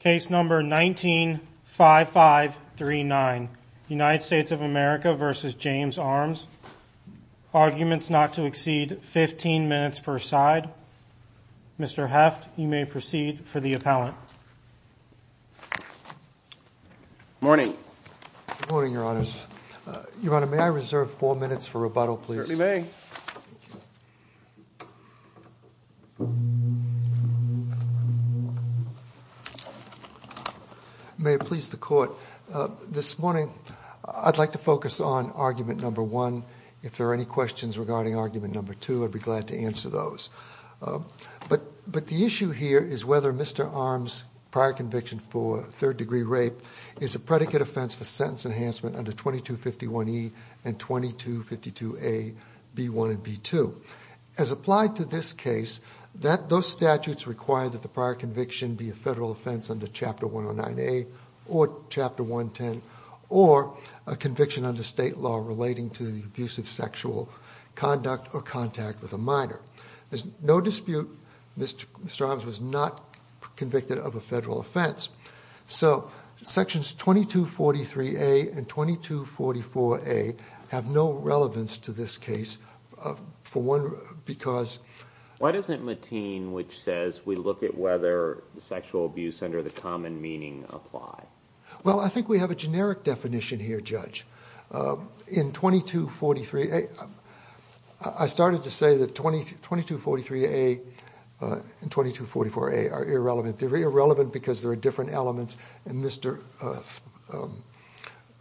Case number 195539, United States of America v. James Armes. Arguments not to exceed 15 minutes per side. Mr. Heft, you may proceed for the appellant. Morning. Good morning, Your Honors. Your Honor, may I reserve four minutes for rebuttal, please? Certainly may. May it please the Court. This morning, I'd like to focus on argument number one. If there are any questions regarding argument number two, I'd be glad to answer those. But the issue here is whether Mr. Armes' prior conviction for third-degree rape is a predicate offense for sentence enhancement under 2251E and 2252A, B1 and B2. As applied to this case, those statutes require that the prior conviction be a federal offense under Chapter 109A or Chapter 110 or a conviction under state law relating to the abuse of sexual conduct or contact with a minor. There's no dispute Mr. Armes was not convicted of a federal offense. So Sections 2243A and 2244A have no relevance to this case. For one, because... Why doesn't Mateen, which says we look at whether sexual abuse under the common meaning apply? Well, I think we have a generic definition here, Judge. In 2243A, I started to say that 2243A and 2244A are irrelevant. They're irrelevant because there are different elements, and Mr. Armes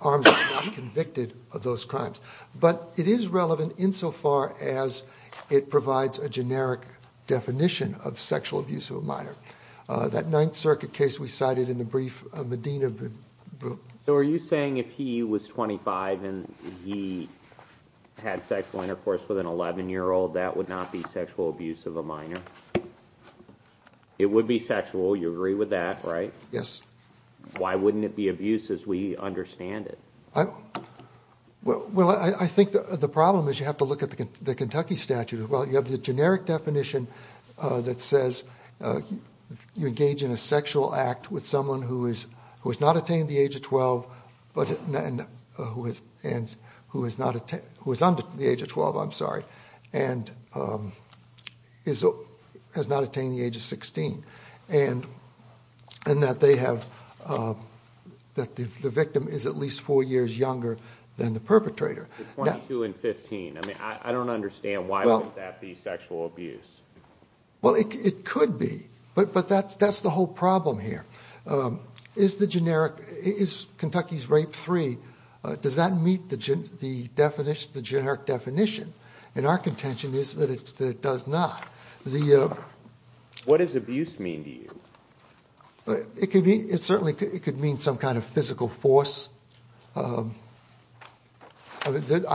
was not convicted of those crimes. But it is relevant insofar as it provides a generic definition of sexual abuse of a minor. That Ninth Circuit case we cited in the brief, Mateen... So are you saying if he was 25 and he had sexual intercourse with an 11-year-old, it would be sexual, you agree with that, right? Yes. Why wouldn't it be abuse as we understand it? Well, I think the problem is you have to look at the Kentucky statute. Well, you have the generic definition that says you engage in a sexual act with someone who has not attained the age of 12, and who is under the age of 12, I'm sorry, and has not attained the age of 16, and that the victim is at least four years younger than the perpetrator. The 22 and 15, I mean, I don't understand why would that be sexual abuse. Well, it could be, but that's the whole problem here. Is Kentucky's Rape 3, does that meet the generic definition? And our contention is that it does not. What does abuse mean to you? It could mean some kind of physical force. I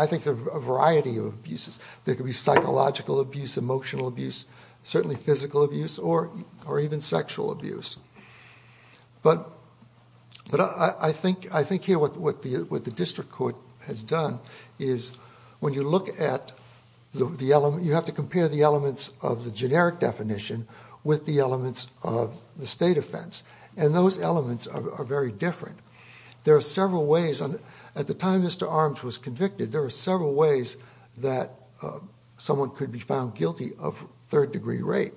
think there are a variety of abuses. There could be psychological abuse, emotional abuse, certainly physical abuse, or even sexual abuse. But I think here what the district court has done is when you look at the element, you have to compare the elements of the generic definition with the elements of the state offense, and those elements are very different. There are several ways, at the time Mr. Arms was convicted, there were several ways that someone could be found guilty of third-degree rape.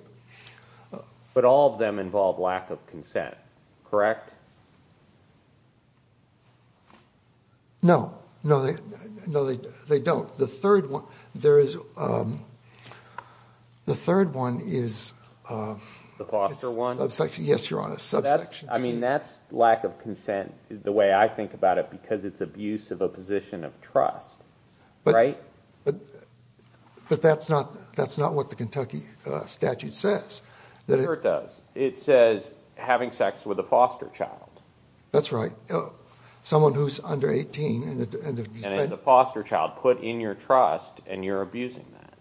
But all of them involve lack of consent, correct? No, no, they don't. The third one, there is, the third one is, The foster one? Yes, Your Honor, subsection C. I mean, that's lack of consent, the way I think about it, because it's abuse of a position of trust, right? But that's not what the Kentucky statute says. Here it does. It says having sex with a foster child. That's right. Someone who's under 18. And it's a foster child put in your trust, and you're abusing that.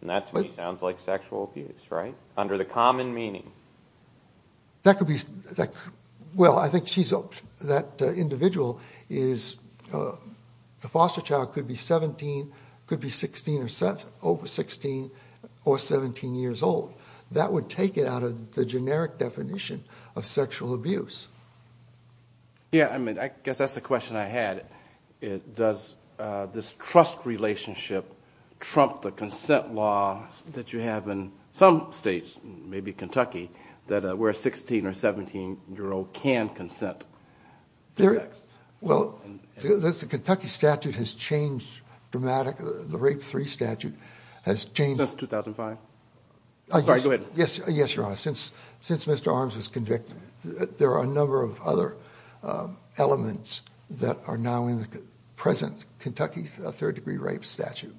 And that to me sounds like sexual abuse, right? Under the common meaning. That could be, well, I think she's, that individual is, the foster child could be 17, could be 16 or over 16, or 17 years old. That would take it out of the generic definition of sexual abuse. Yeah, I mean, I guess that's the question I had. Does this trust relationship trump the consent law that you have in some states, maybe Kentucky, where a 16 or 17-year-old can consent to sex? Well, the Kentucky statute has changed dramatically. The Rape III statute has changed. Since 2005? Sorry, go ahead. Yes, Your Honor, since Mr. Arms was convicted, there are a number of other elements that are now in the present Kentucky third degree rape statute.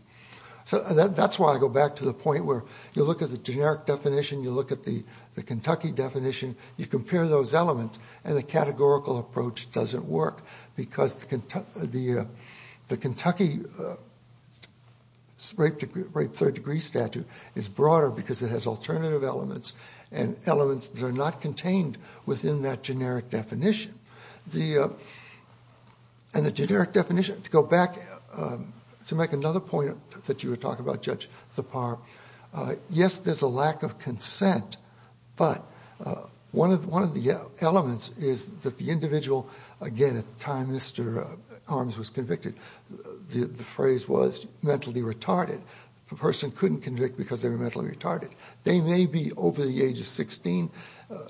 So that's why I go back to the point where you look at the generic definition, you look at the Kentucky definition, you compare those elements, and the categorical approach doesn't work, because the Kentucky Rape III degree statute is broader because it has alternative elements and elements that are not contained within that generic definition. And the generic definition, to go back, to make another point that you were talking about, Judge Zappar, yes, there's a lack of consent, but one of the elements is that the individual, again, at the time Mr. Arms was convicted, the phrase was mentally retarded. The person couldn't convict because they were mentally retarded. They may be over the age of 16.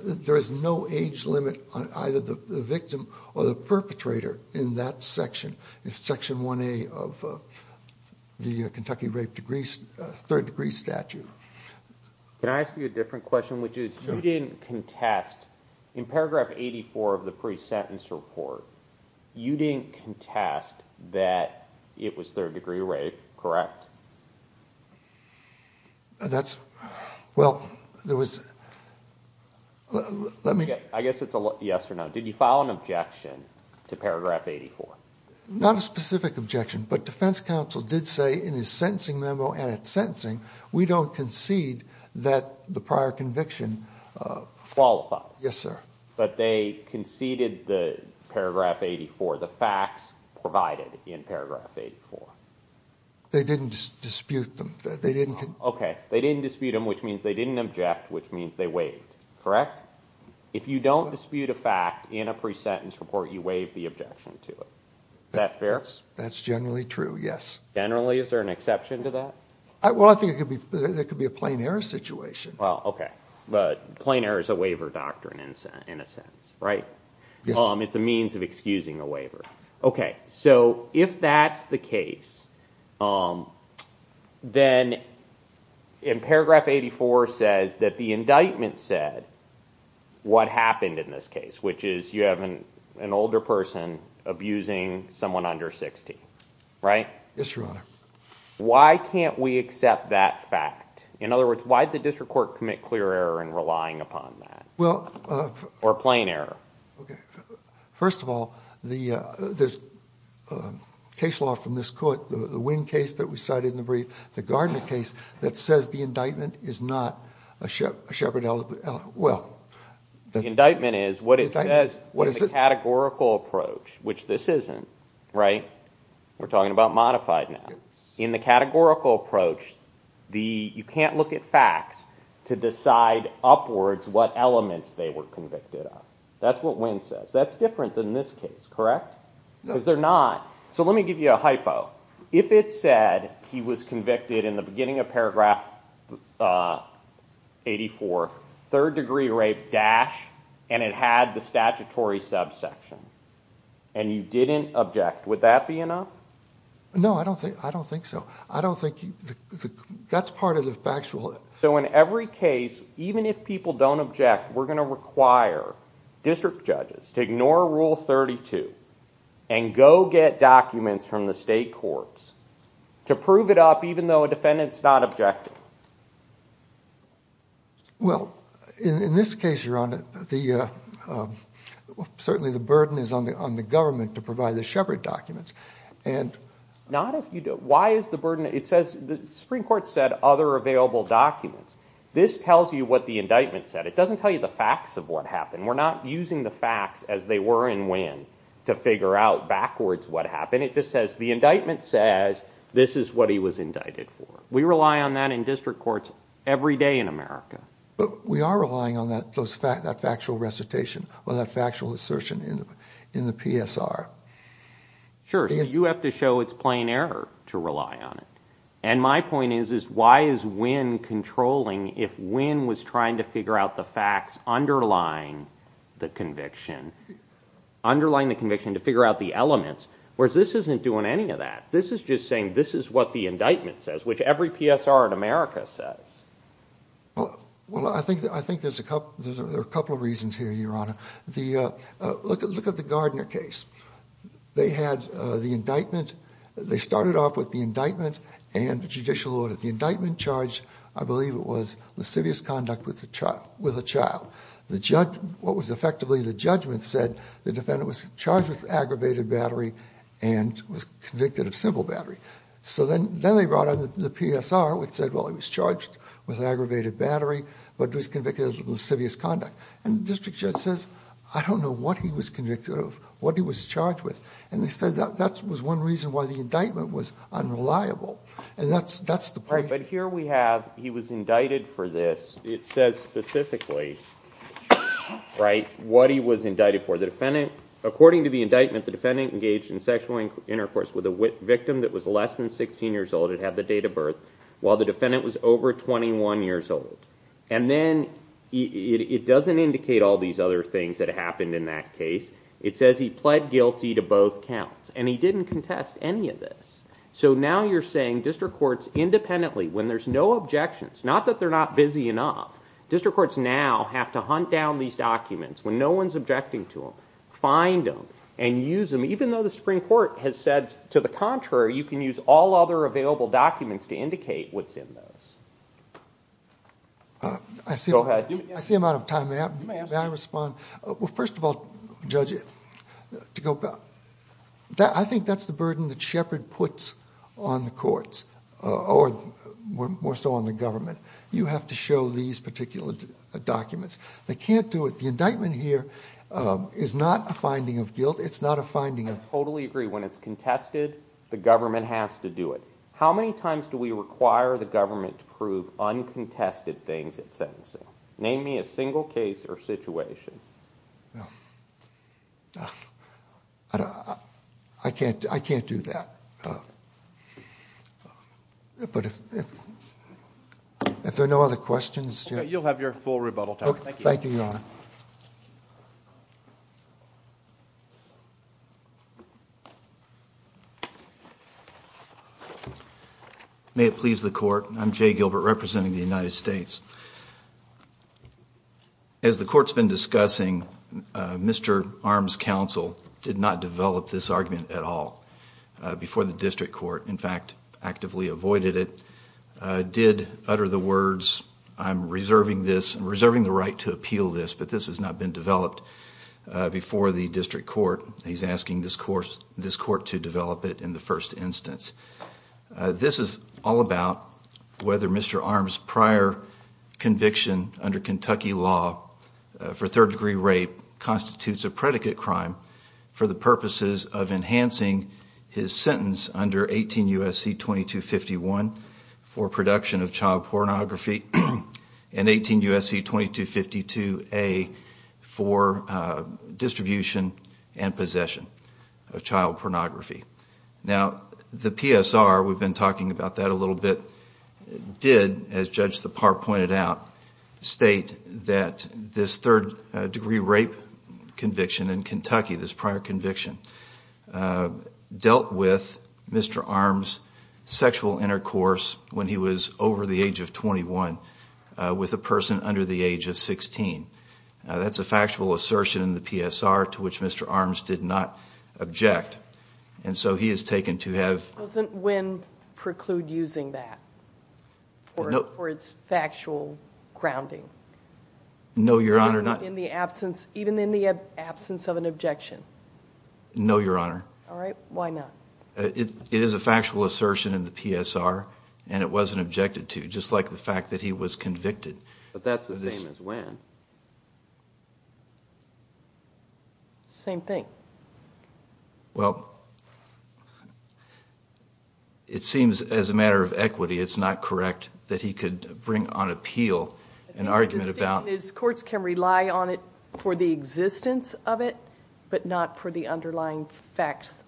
There is no age limit on either the victim or the perpetrator in that section. It's section 1A of the Kentucky Rape III degree statute. Can I ask you a different question, which is, you didn't contest, in paragraph 84 of the pre-sentence report, you didn't contest that it was third degree rape, correct? That's, well, there was, let me... I guess it's a yes or no. Did you file an objection to paragraph 84? Not a specific objection, but defense counsel did say in his sentencing memo and at sentencing, we don't concede that the prior conviction... Qualifies. Yes, sir. But they conceded the paragraph 84, the facts provided in paragraph 84. They didn't dispute them. Okay, they didn't dispute them, which means they didn't object, which means they waived, correct? If you don't dispute a fact in a pre-sentence report, you waive the objection to it. Is that fair? That's generally true, yes. Generally? Is there an exception to that? Well, I think there could be a plain error situation. Well, okay, but plain error is a waiver doctrine in a sense, right? Yes. It's a means of excusing a waiver. Okay, so if that's the case, then in paragraph 84 says that the indictment said what happened in this case, which is you have an older person abusing someone under 60, right? Yes, Your Honor. Why can't we accept that fact? In other words, why did the district court commit clear error in relying upon that? Well... Or plain error? Okay. First of all, there's case law from this court, the Winn case that we cited in the brief, the Gardner case that says the indictment is not a Sheppard element. Well... The indictment is what it says in the categorical approach, which this isn't, right? We're talking about modified now. In the categorical approach, you can't look at facts to decide upwards what elements they were convicted of. That's what Winn says. That's different than this case, correct? No. Because they're not. So let me give you a hypo. If it said he was convicted in the beginning of paragraph 84, third degree rape, dash, and it had the statutory subsection, and you didn't object, would that be enough? No, I don't think so. I don't think... That's part of the factual... So in every case, even if people don't object, we're going to require district judges to ignore Rule 32 and go get documents from the state courts to prove it up even though a defendant's not objecting. Well, in this case, your honor, certainly the burden is on the government to provide the Sheppard documents. Not if you don't... Why is the burden... Because the Supreme Court said other available documents. This tells you what the indictment said. It doesn't tell you the facts of what happened. We're not using the facts as they were in Winn to figure out backwards what happened. It just says the indictment says this is what he was indicted for. We rely on that in district courts every day in America. But we are relying on that factual recitation or that factual assertion in the PSR. Sure. So you have to show it's plain error to rely on it. And my point is why is Winn controlling if Winn was trying to figure out the facts underlying the conviction, underlying the conviction to figure out the elements, whereas this isn't doing any of that. This is just saying this is what the indictment says, which every PSR in America says. Well, I think there's a couple of reasons here, your honor. Look at the Gardner case. They had the indictment. They started off with the indictment and the judicial order. The indictment charged, I believe it was, lascivious conduct with a child. What was effectively the judgment said the defendant was charged with aggravated battery and was convicted of simple battery. So then they brought on the PSR, which said, well, he was charged with aggravated battery, but was convicted of lascivious conduct. And the district judge says, I don't know what he was convicted of, what he was charged with. And he said that was one reason why the indictment was unreliable. And that's the point. Right. But here we have he was indicted for this. It says specifically what he was indicted for. According to the indictment, the defendant engaged in sexual intercourse with a victim that was less than 16 years old. It had the date of birth, while the defendant was over 21 years old. And then it doesn't indicate all these other things that happened in that case. It says he pled guilty to both counts. And he didn't contest any of this. So now you're saying district courts independently, when there's no objections, not that they're not busy enough, district courts now have to hunt down these documents when no one's objecting to them, find them, and use them, even though the Supreme Court has said to the contrary, you can use all other available documents to indicate what's in those. Go ahead. I see I'm out of time. May I respond? Well, first of all, Judge, I think that's the burden that Shepard puts on the courts, or more so on the government. You have to show these particular documents. They can't do it. The indictment here is not a finding of guilt. It's not a finding of- I totally agree. When it's contested, the government has to do it. How many times do we require the government to prove uncontested things in sentencing? Name me a single case or situation. I can't do that. But if there are no other questions- You'll have your full rebuttal time. Thank you, Your Honor. May it please the Court, I'm Jay Gilbert representing the United States. As the Court's been discussing, Mr. Arms' counsel did not develop this argument at all before the district court, in fact, actively avoided it, did utter the words, I'm reserving the right to appeal this, but this has not been developed before the district court. He's asking this court to develop it in the first instance. This is all about whether Mr. Arms' prior conviction under Kentucky law for third-degree rape constitutes a predicate crime for the purposes of enhancing his sentence under 18 U.S.C. 2251 for production of child pornography, and 18 U.S.C. 2252A for distribution and possession of child pornography. Now, the PSR, we've been talking about that a little bit, did, as Judge Tappar pointed out, state that this third-degree rape conviction in Kentucky, this prior conviction, dealt with Mr. Arms' sexual intercourse when he was over the age of 21 with a person under the age of 16. That's a factual assertion in the PSR to which Mr. Arms did not object, and so he is taken to have- For its factual grounding. No, Your Honor, not- Even in the absence of an objection. No, Your Honor. All right, why not? It is a factual assertion in the PSR, and it wasn't objected to, just like the fact that he was convicted. But that's the same as when. Same thing. Well, it seems as a matter of equity it's not correct that he could bring on appeal an argument about- The distinction is courts can rely on it for the existence of it, but not for the underlying facts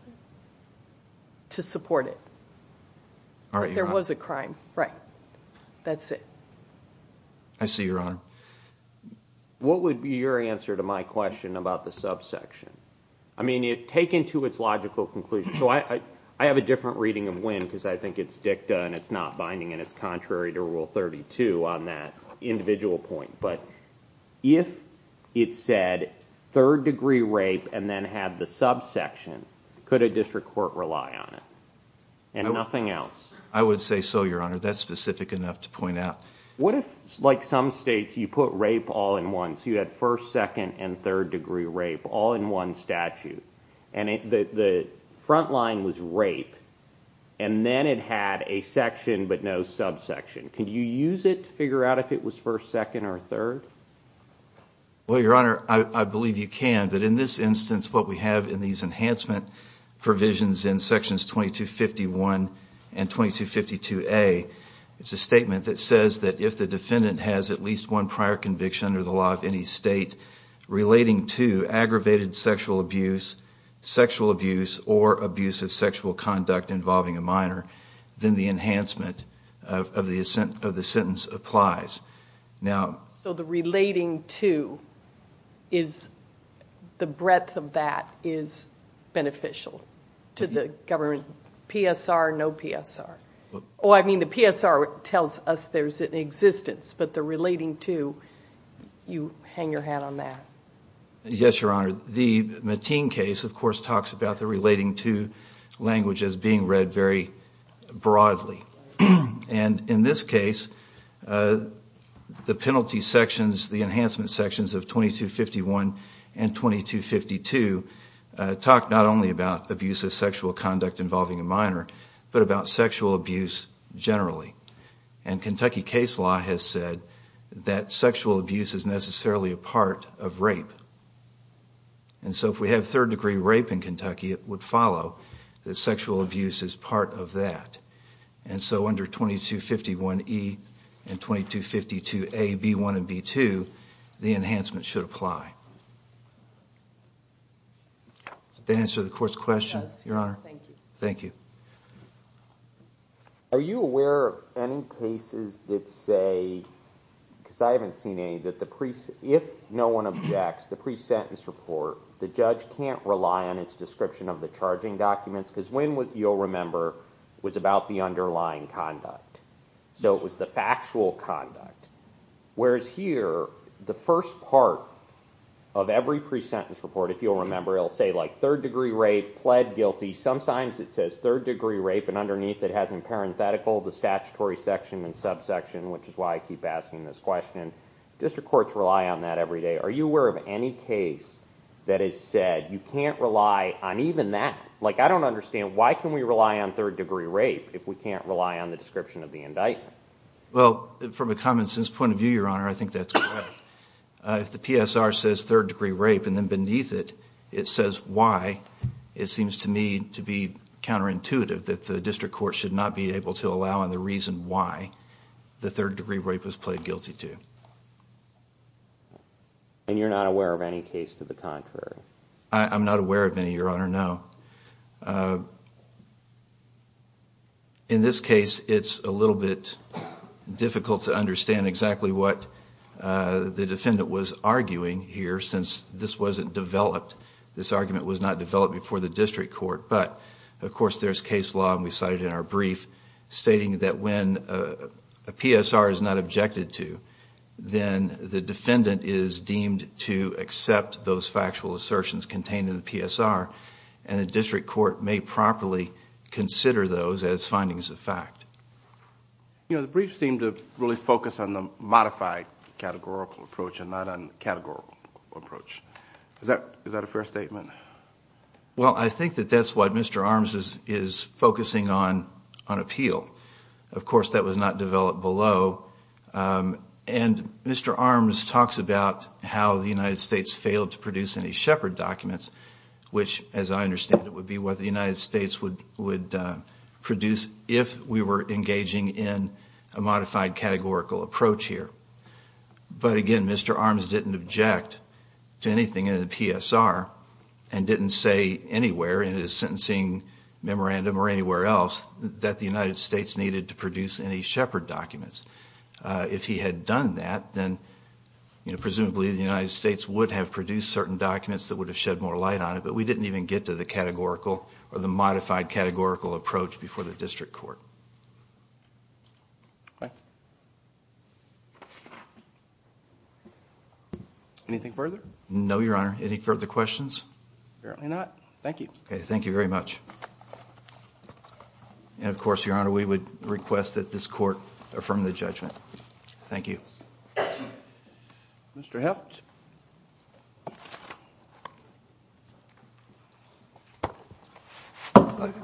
to support it. All right, Your Honor. There was a crime, right. That's it. I see, Your Honor. What would be your answer to my question about the subsection? I mean, taken to its logical conclusion. So I have a different reading of when, because I think it's dicta and it's not binding, and it's contrary to Rule 32 on that individual point. But if it said third-degree rape and then had the subsection, could a district court rely on it and nothing else? I would say so, Your Honor. That's specific enough to point out. What if, like some states, you put rape all in one? So you had first, second, and third-degree rape all in one statute. And the front line was rape, and then it had a section but no subsection. Could you use it to figure out if it was first, second, or third? Well, Your Honor, I believe you can. But in this instance, what we have in these enhancement provisions in Sections 2251 and 2252A, it's a statement that says that if the defendant has at least one prior conviction under the law of any state relating to aggravated sexual abuse, sexual abuse, or abuse of sexual conduct involving a minor, then the enhancement of the sentence applies. So the relating to is the breadth of that is beneficial to the government. PSR, no PSR. Oh, I mean the PSR tells us there's an existence, but the relating to, you hang your hat on that. Yes, Your Honor. The Mateen case, of course, talks about the relating to language as being read very broadly. And in this case, the penalty sections, the enhancement sections of 2251 and 2252, talk not only about abuse of sexual conduct involving a minor, but about sexual abuse generally. And Kentucky case law has said that sexual abuse is necessarily a part of rape. And so if we have third-degree rape in Kentucky, it would follow that sexual abuse is part of that. And so under 2251E and 2252A, B1 and B2, the enhancement should apply. Does that answer the court's question, Your Honor? Yes, thank you. Thank you. Are you aware of any cases that say, because I haven't seen any, that if no one objects the pre-sentence report, the judge can't rely on its description of the charging documents? Because when, you'll remember, was about the underlying conduct. So it was the factual conduct. Whereas here, the first part of every pre-sentence report, if you'll remember, it'll say like third-degree rape, pled guilty. Sometimes it says third-degree rape, and underneath it has in parenthetical the statutory section and subsection, which is why I keep asking this question. District courts rely on that every day. Are you aware of any case that has said you can't rely on even that? Like I don't understand, why can we rely on third-degree rape if we can't rely on the description of the indictment? Well, from a common-sense point of view, Your Honor, I think that's correct. If the PSR says third-degree rape and then beneath it, it says why, it seems to me to be counterintuitive that the district court should not be able to allow on the reason why the third-degree rape was pled guilty to. I'm not aware of any, Your Honor, no. In this case, it's a little bit difficult to understand exactly what the defendant was arguing here since this wasn't developed. This argument was not developed before the district court. But, of course, there's case law, and we cited it in our brief, stating that when a PSR is not objected to, then the defendant is deemed to accept those factual assertions contained in the PSR, and the district court may properly consider those as findings of fact. The brief seemed to really focus on the modified categorical approach and not on categorical approach. Is that a fair statement? Well, I think that that's what Mr. Arms is focusing on, on appeal. Of course, that was not developed below. And Mr. Arms talks about how the United States failed to produce any Shepard documents, which, as I understand it, would be what the United States would produce if we were engaging in a modified categorical approach here. But, again, Mr. Arms didn't object to anything in the PSR and didn't say anywhere in his sentencing memorandum or anywhere else that the United States needed to produce any Shepard documents. If he had done that, then presumably the United States would have produced certain documents that would have shed more light on it, but we didn't even get to the categorical or the modified categorical approach before the district court. Okay. Anything further? No, Your Honor. Any further questions? Apparently not. Thank you. Okay. Thank you very much. And, of course, Your Honor, we would request that this court affirm the judgment. Thank you. Mr. Heft?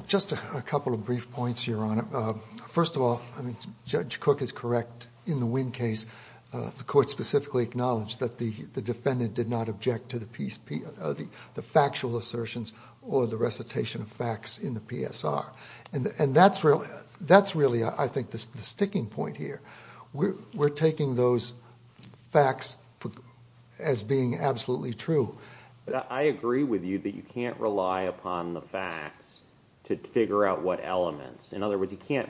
Just a couple of brief points, Your Honor. First of all, Judge Cook is correct. In the Winn case, the court specifically acknowledged that the defendant did not object to the factual assertions or the recitation of facts in the PSR. And that's really, I think, the sticking point here. We're taking those facts as being absolutely true. I agree with you that you can't rely upon the facts to figure out what elements. In other words, you can't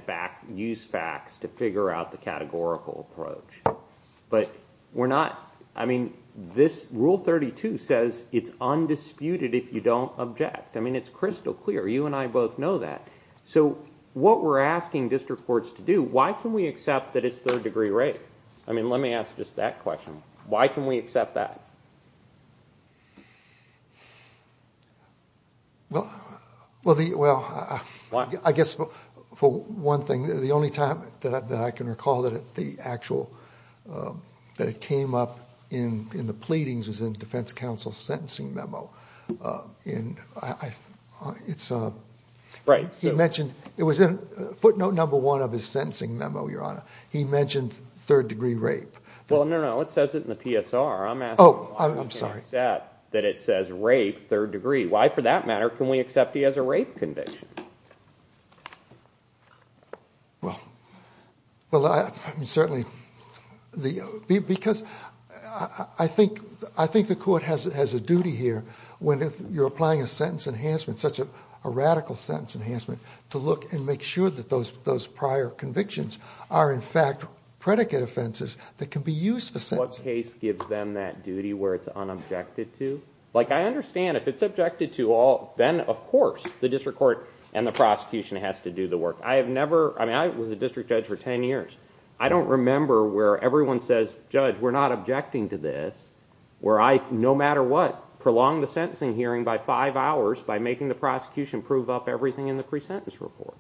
use facts to figure out the categorical approach. But we're not, I mean, this Rule 32 says it's undisputed if you don't object. I mean, it's crystal clear. You and I both know that. So what we're asking district courts to do, why can we accept that it's third-degree rape? I mean, let me ask just that question. Why can we accept that? Well, I guess for one thing, the only time that I can recall that it came up in the pleadings was in the Defense Counsel's sentencing memo. It was footnote number one of his sentencing memo, Your Honor. He mentioned third-degree rape. Well, no, no, it says it in the PSR. I'm asking why we can't accept that it says rape, third degree. Why, for that matter, can we accept he has a rape conviction? Well, certainly, because I think the court has a duty here when you're applying a sentence enhancement, such a radical sentence enhancement, to look and make sure that those prior convictions are, in fact, predicate offenses that can be used for sentencing. What case gives them that duty where it's unobjected to? I understand if it's objected to, then, of course, the district court and the prosecution has to do the work. I was a district judge for ten years. I don't remember where everyone says, Judge, we're not objecting to this, where I, no matter what, prolong the sentencing hearing by five hours by making the prosecution prove up everything in the pre-sentence report.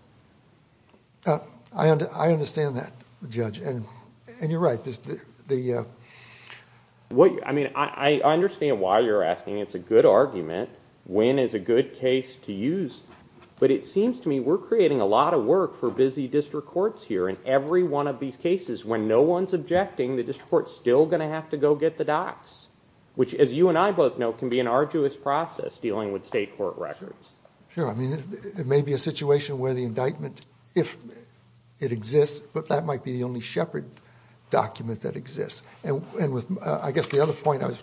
I understand that, Judge, and you're right. I understand why you're asking. It's a good argument. When is a good case to use? But it seems to me we're creating a lot of work for busy district courts here. In every one of these cases, when no one's objecting, the district court's still going to have to go get the docs, which, as you and I both know, can be an arduous process dealing with state court records. Sure. It may be a situation where the indictment, if it exists, but that might be the only Shepard document that exists. I guess the other point I was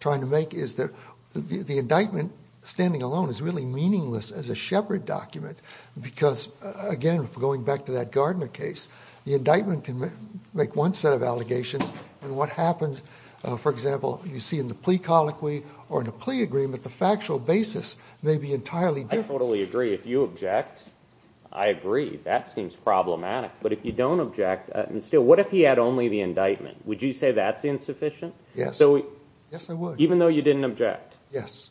trying to make is that the indictment, standing alone, is really meaningless as a Shepard document because, again, going back to that Gardner case, the indictment can make one set of allegations, and what happens, for example, you see in the plea colloquy or in a plea agreement, the factual basis may be entirely different. I totally agree. If you object, I agree. That seems problematic. But if you don't object, still, what if he had only the indictment? Would you say that's insufficient? Yes. Yes, I would. Even though you didn't object? Yes.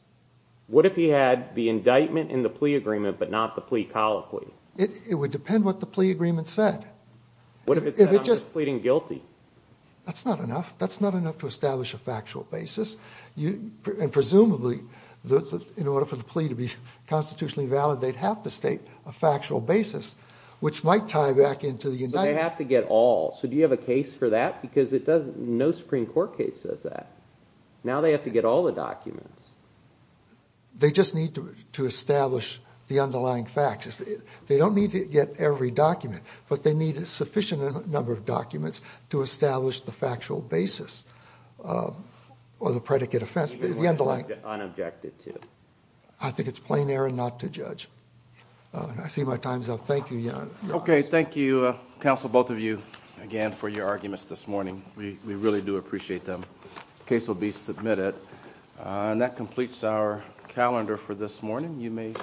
What if he had the indictment and the plea agreement but not the plea colloquy? It would depend what the plea agreement said. What if it said I'm pleading guilty? That's not enough. That's not enough to establish a factual basis, and presumably in order for the plea to be constitutionally valid, they'd have to state a factual basis, which might tie back into the indictment. But they have to get all. So do you have a case for that? Because no Supreme Court case says that. Now they have to get all the documents. They just need to establish the underlying facts. They don't need to get every document, but they need a sufficient number of documents to establish the factual basis or the predicate offense, the underlying. Unobjected to. I think it's plain error not to judge. I see my time's up. Thank you, Your Honor. Okay, thank you, counsel, both of you, again, for your arguments this morning. We really do appreciate them. The case will be submitted. And that completes our calendar for this morning.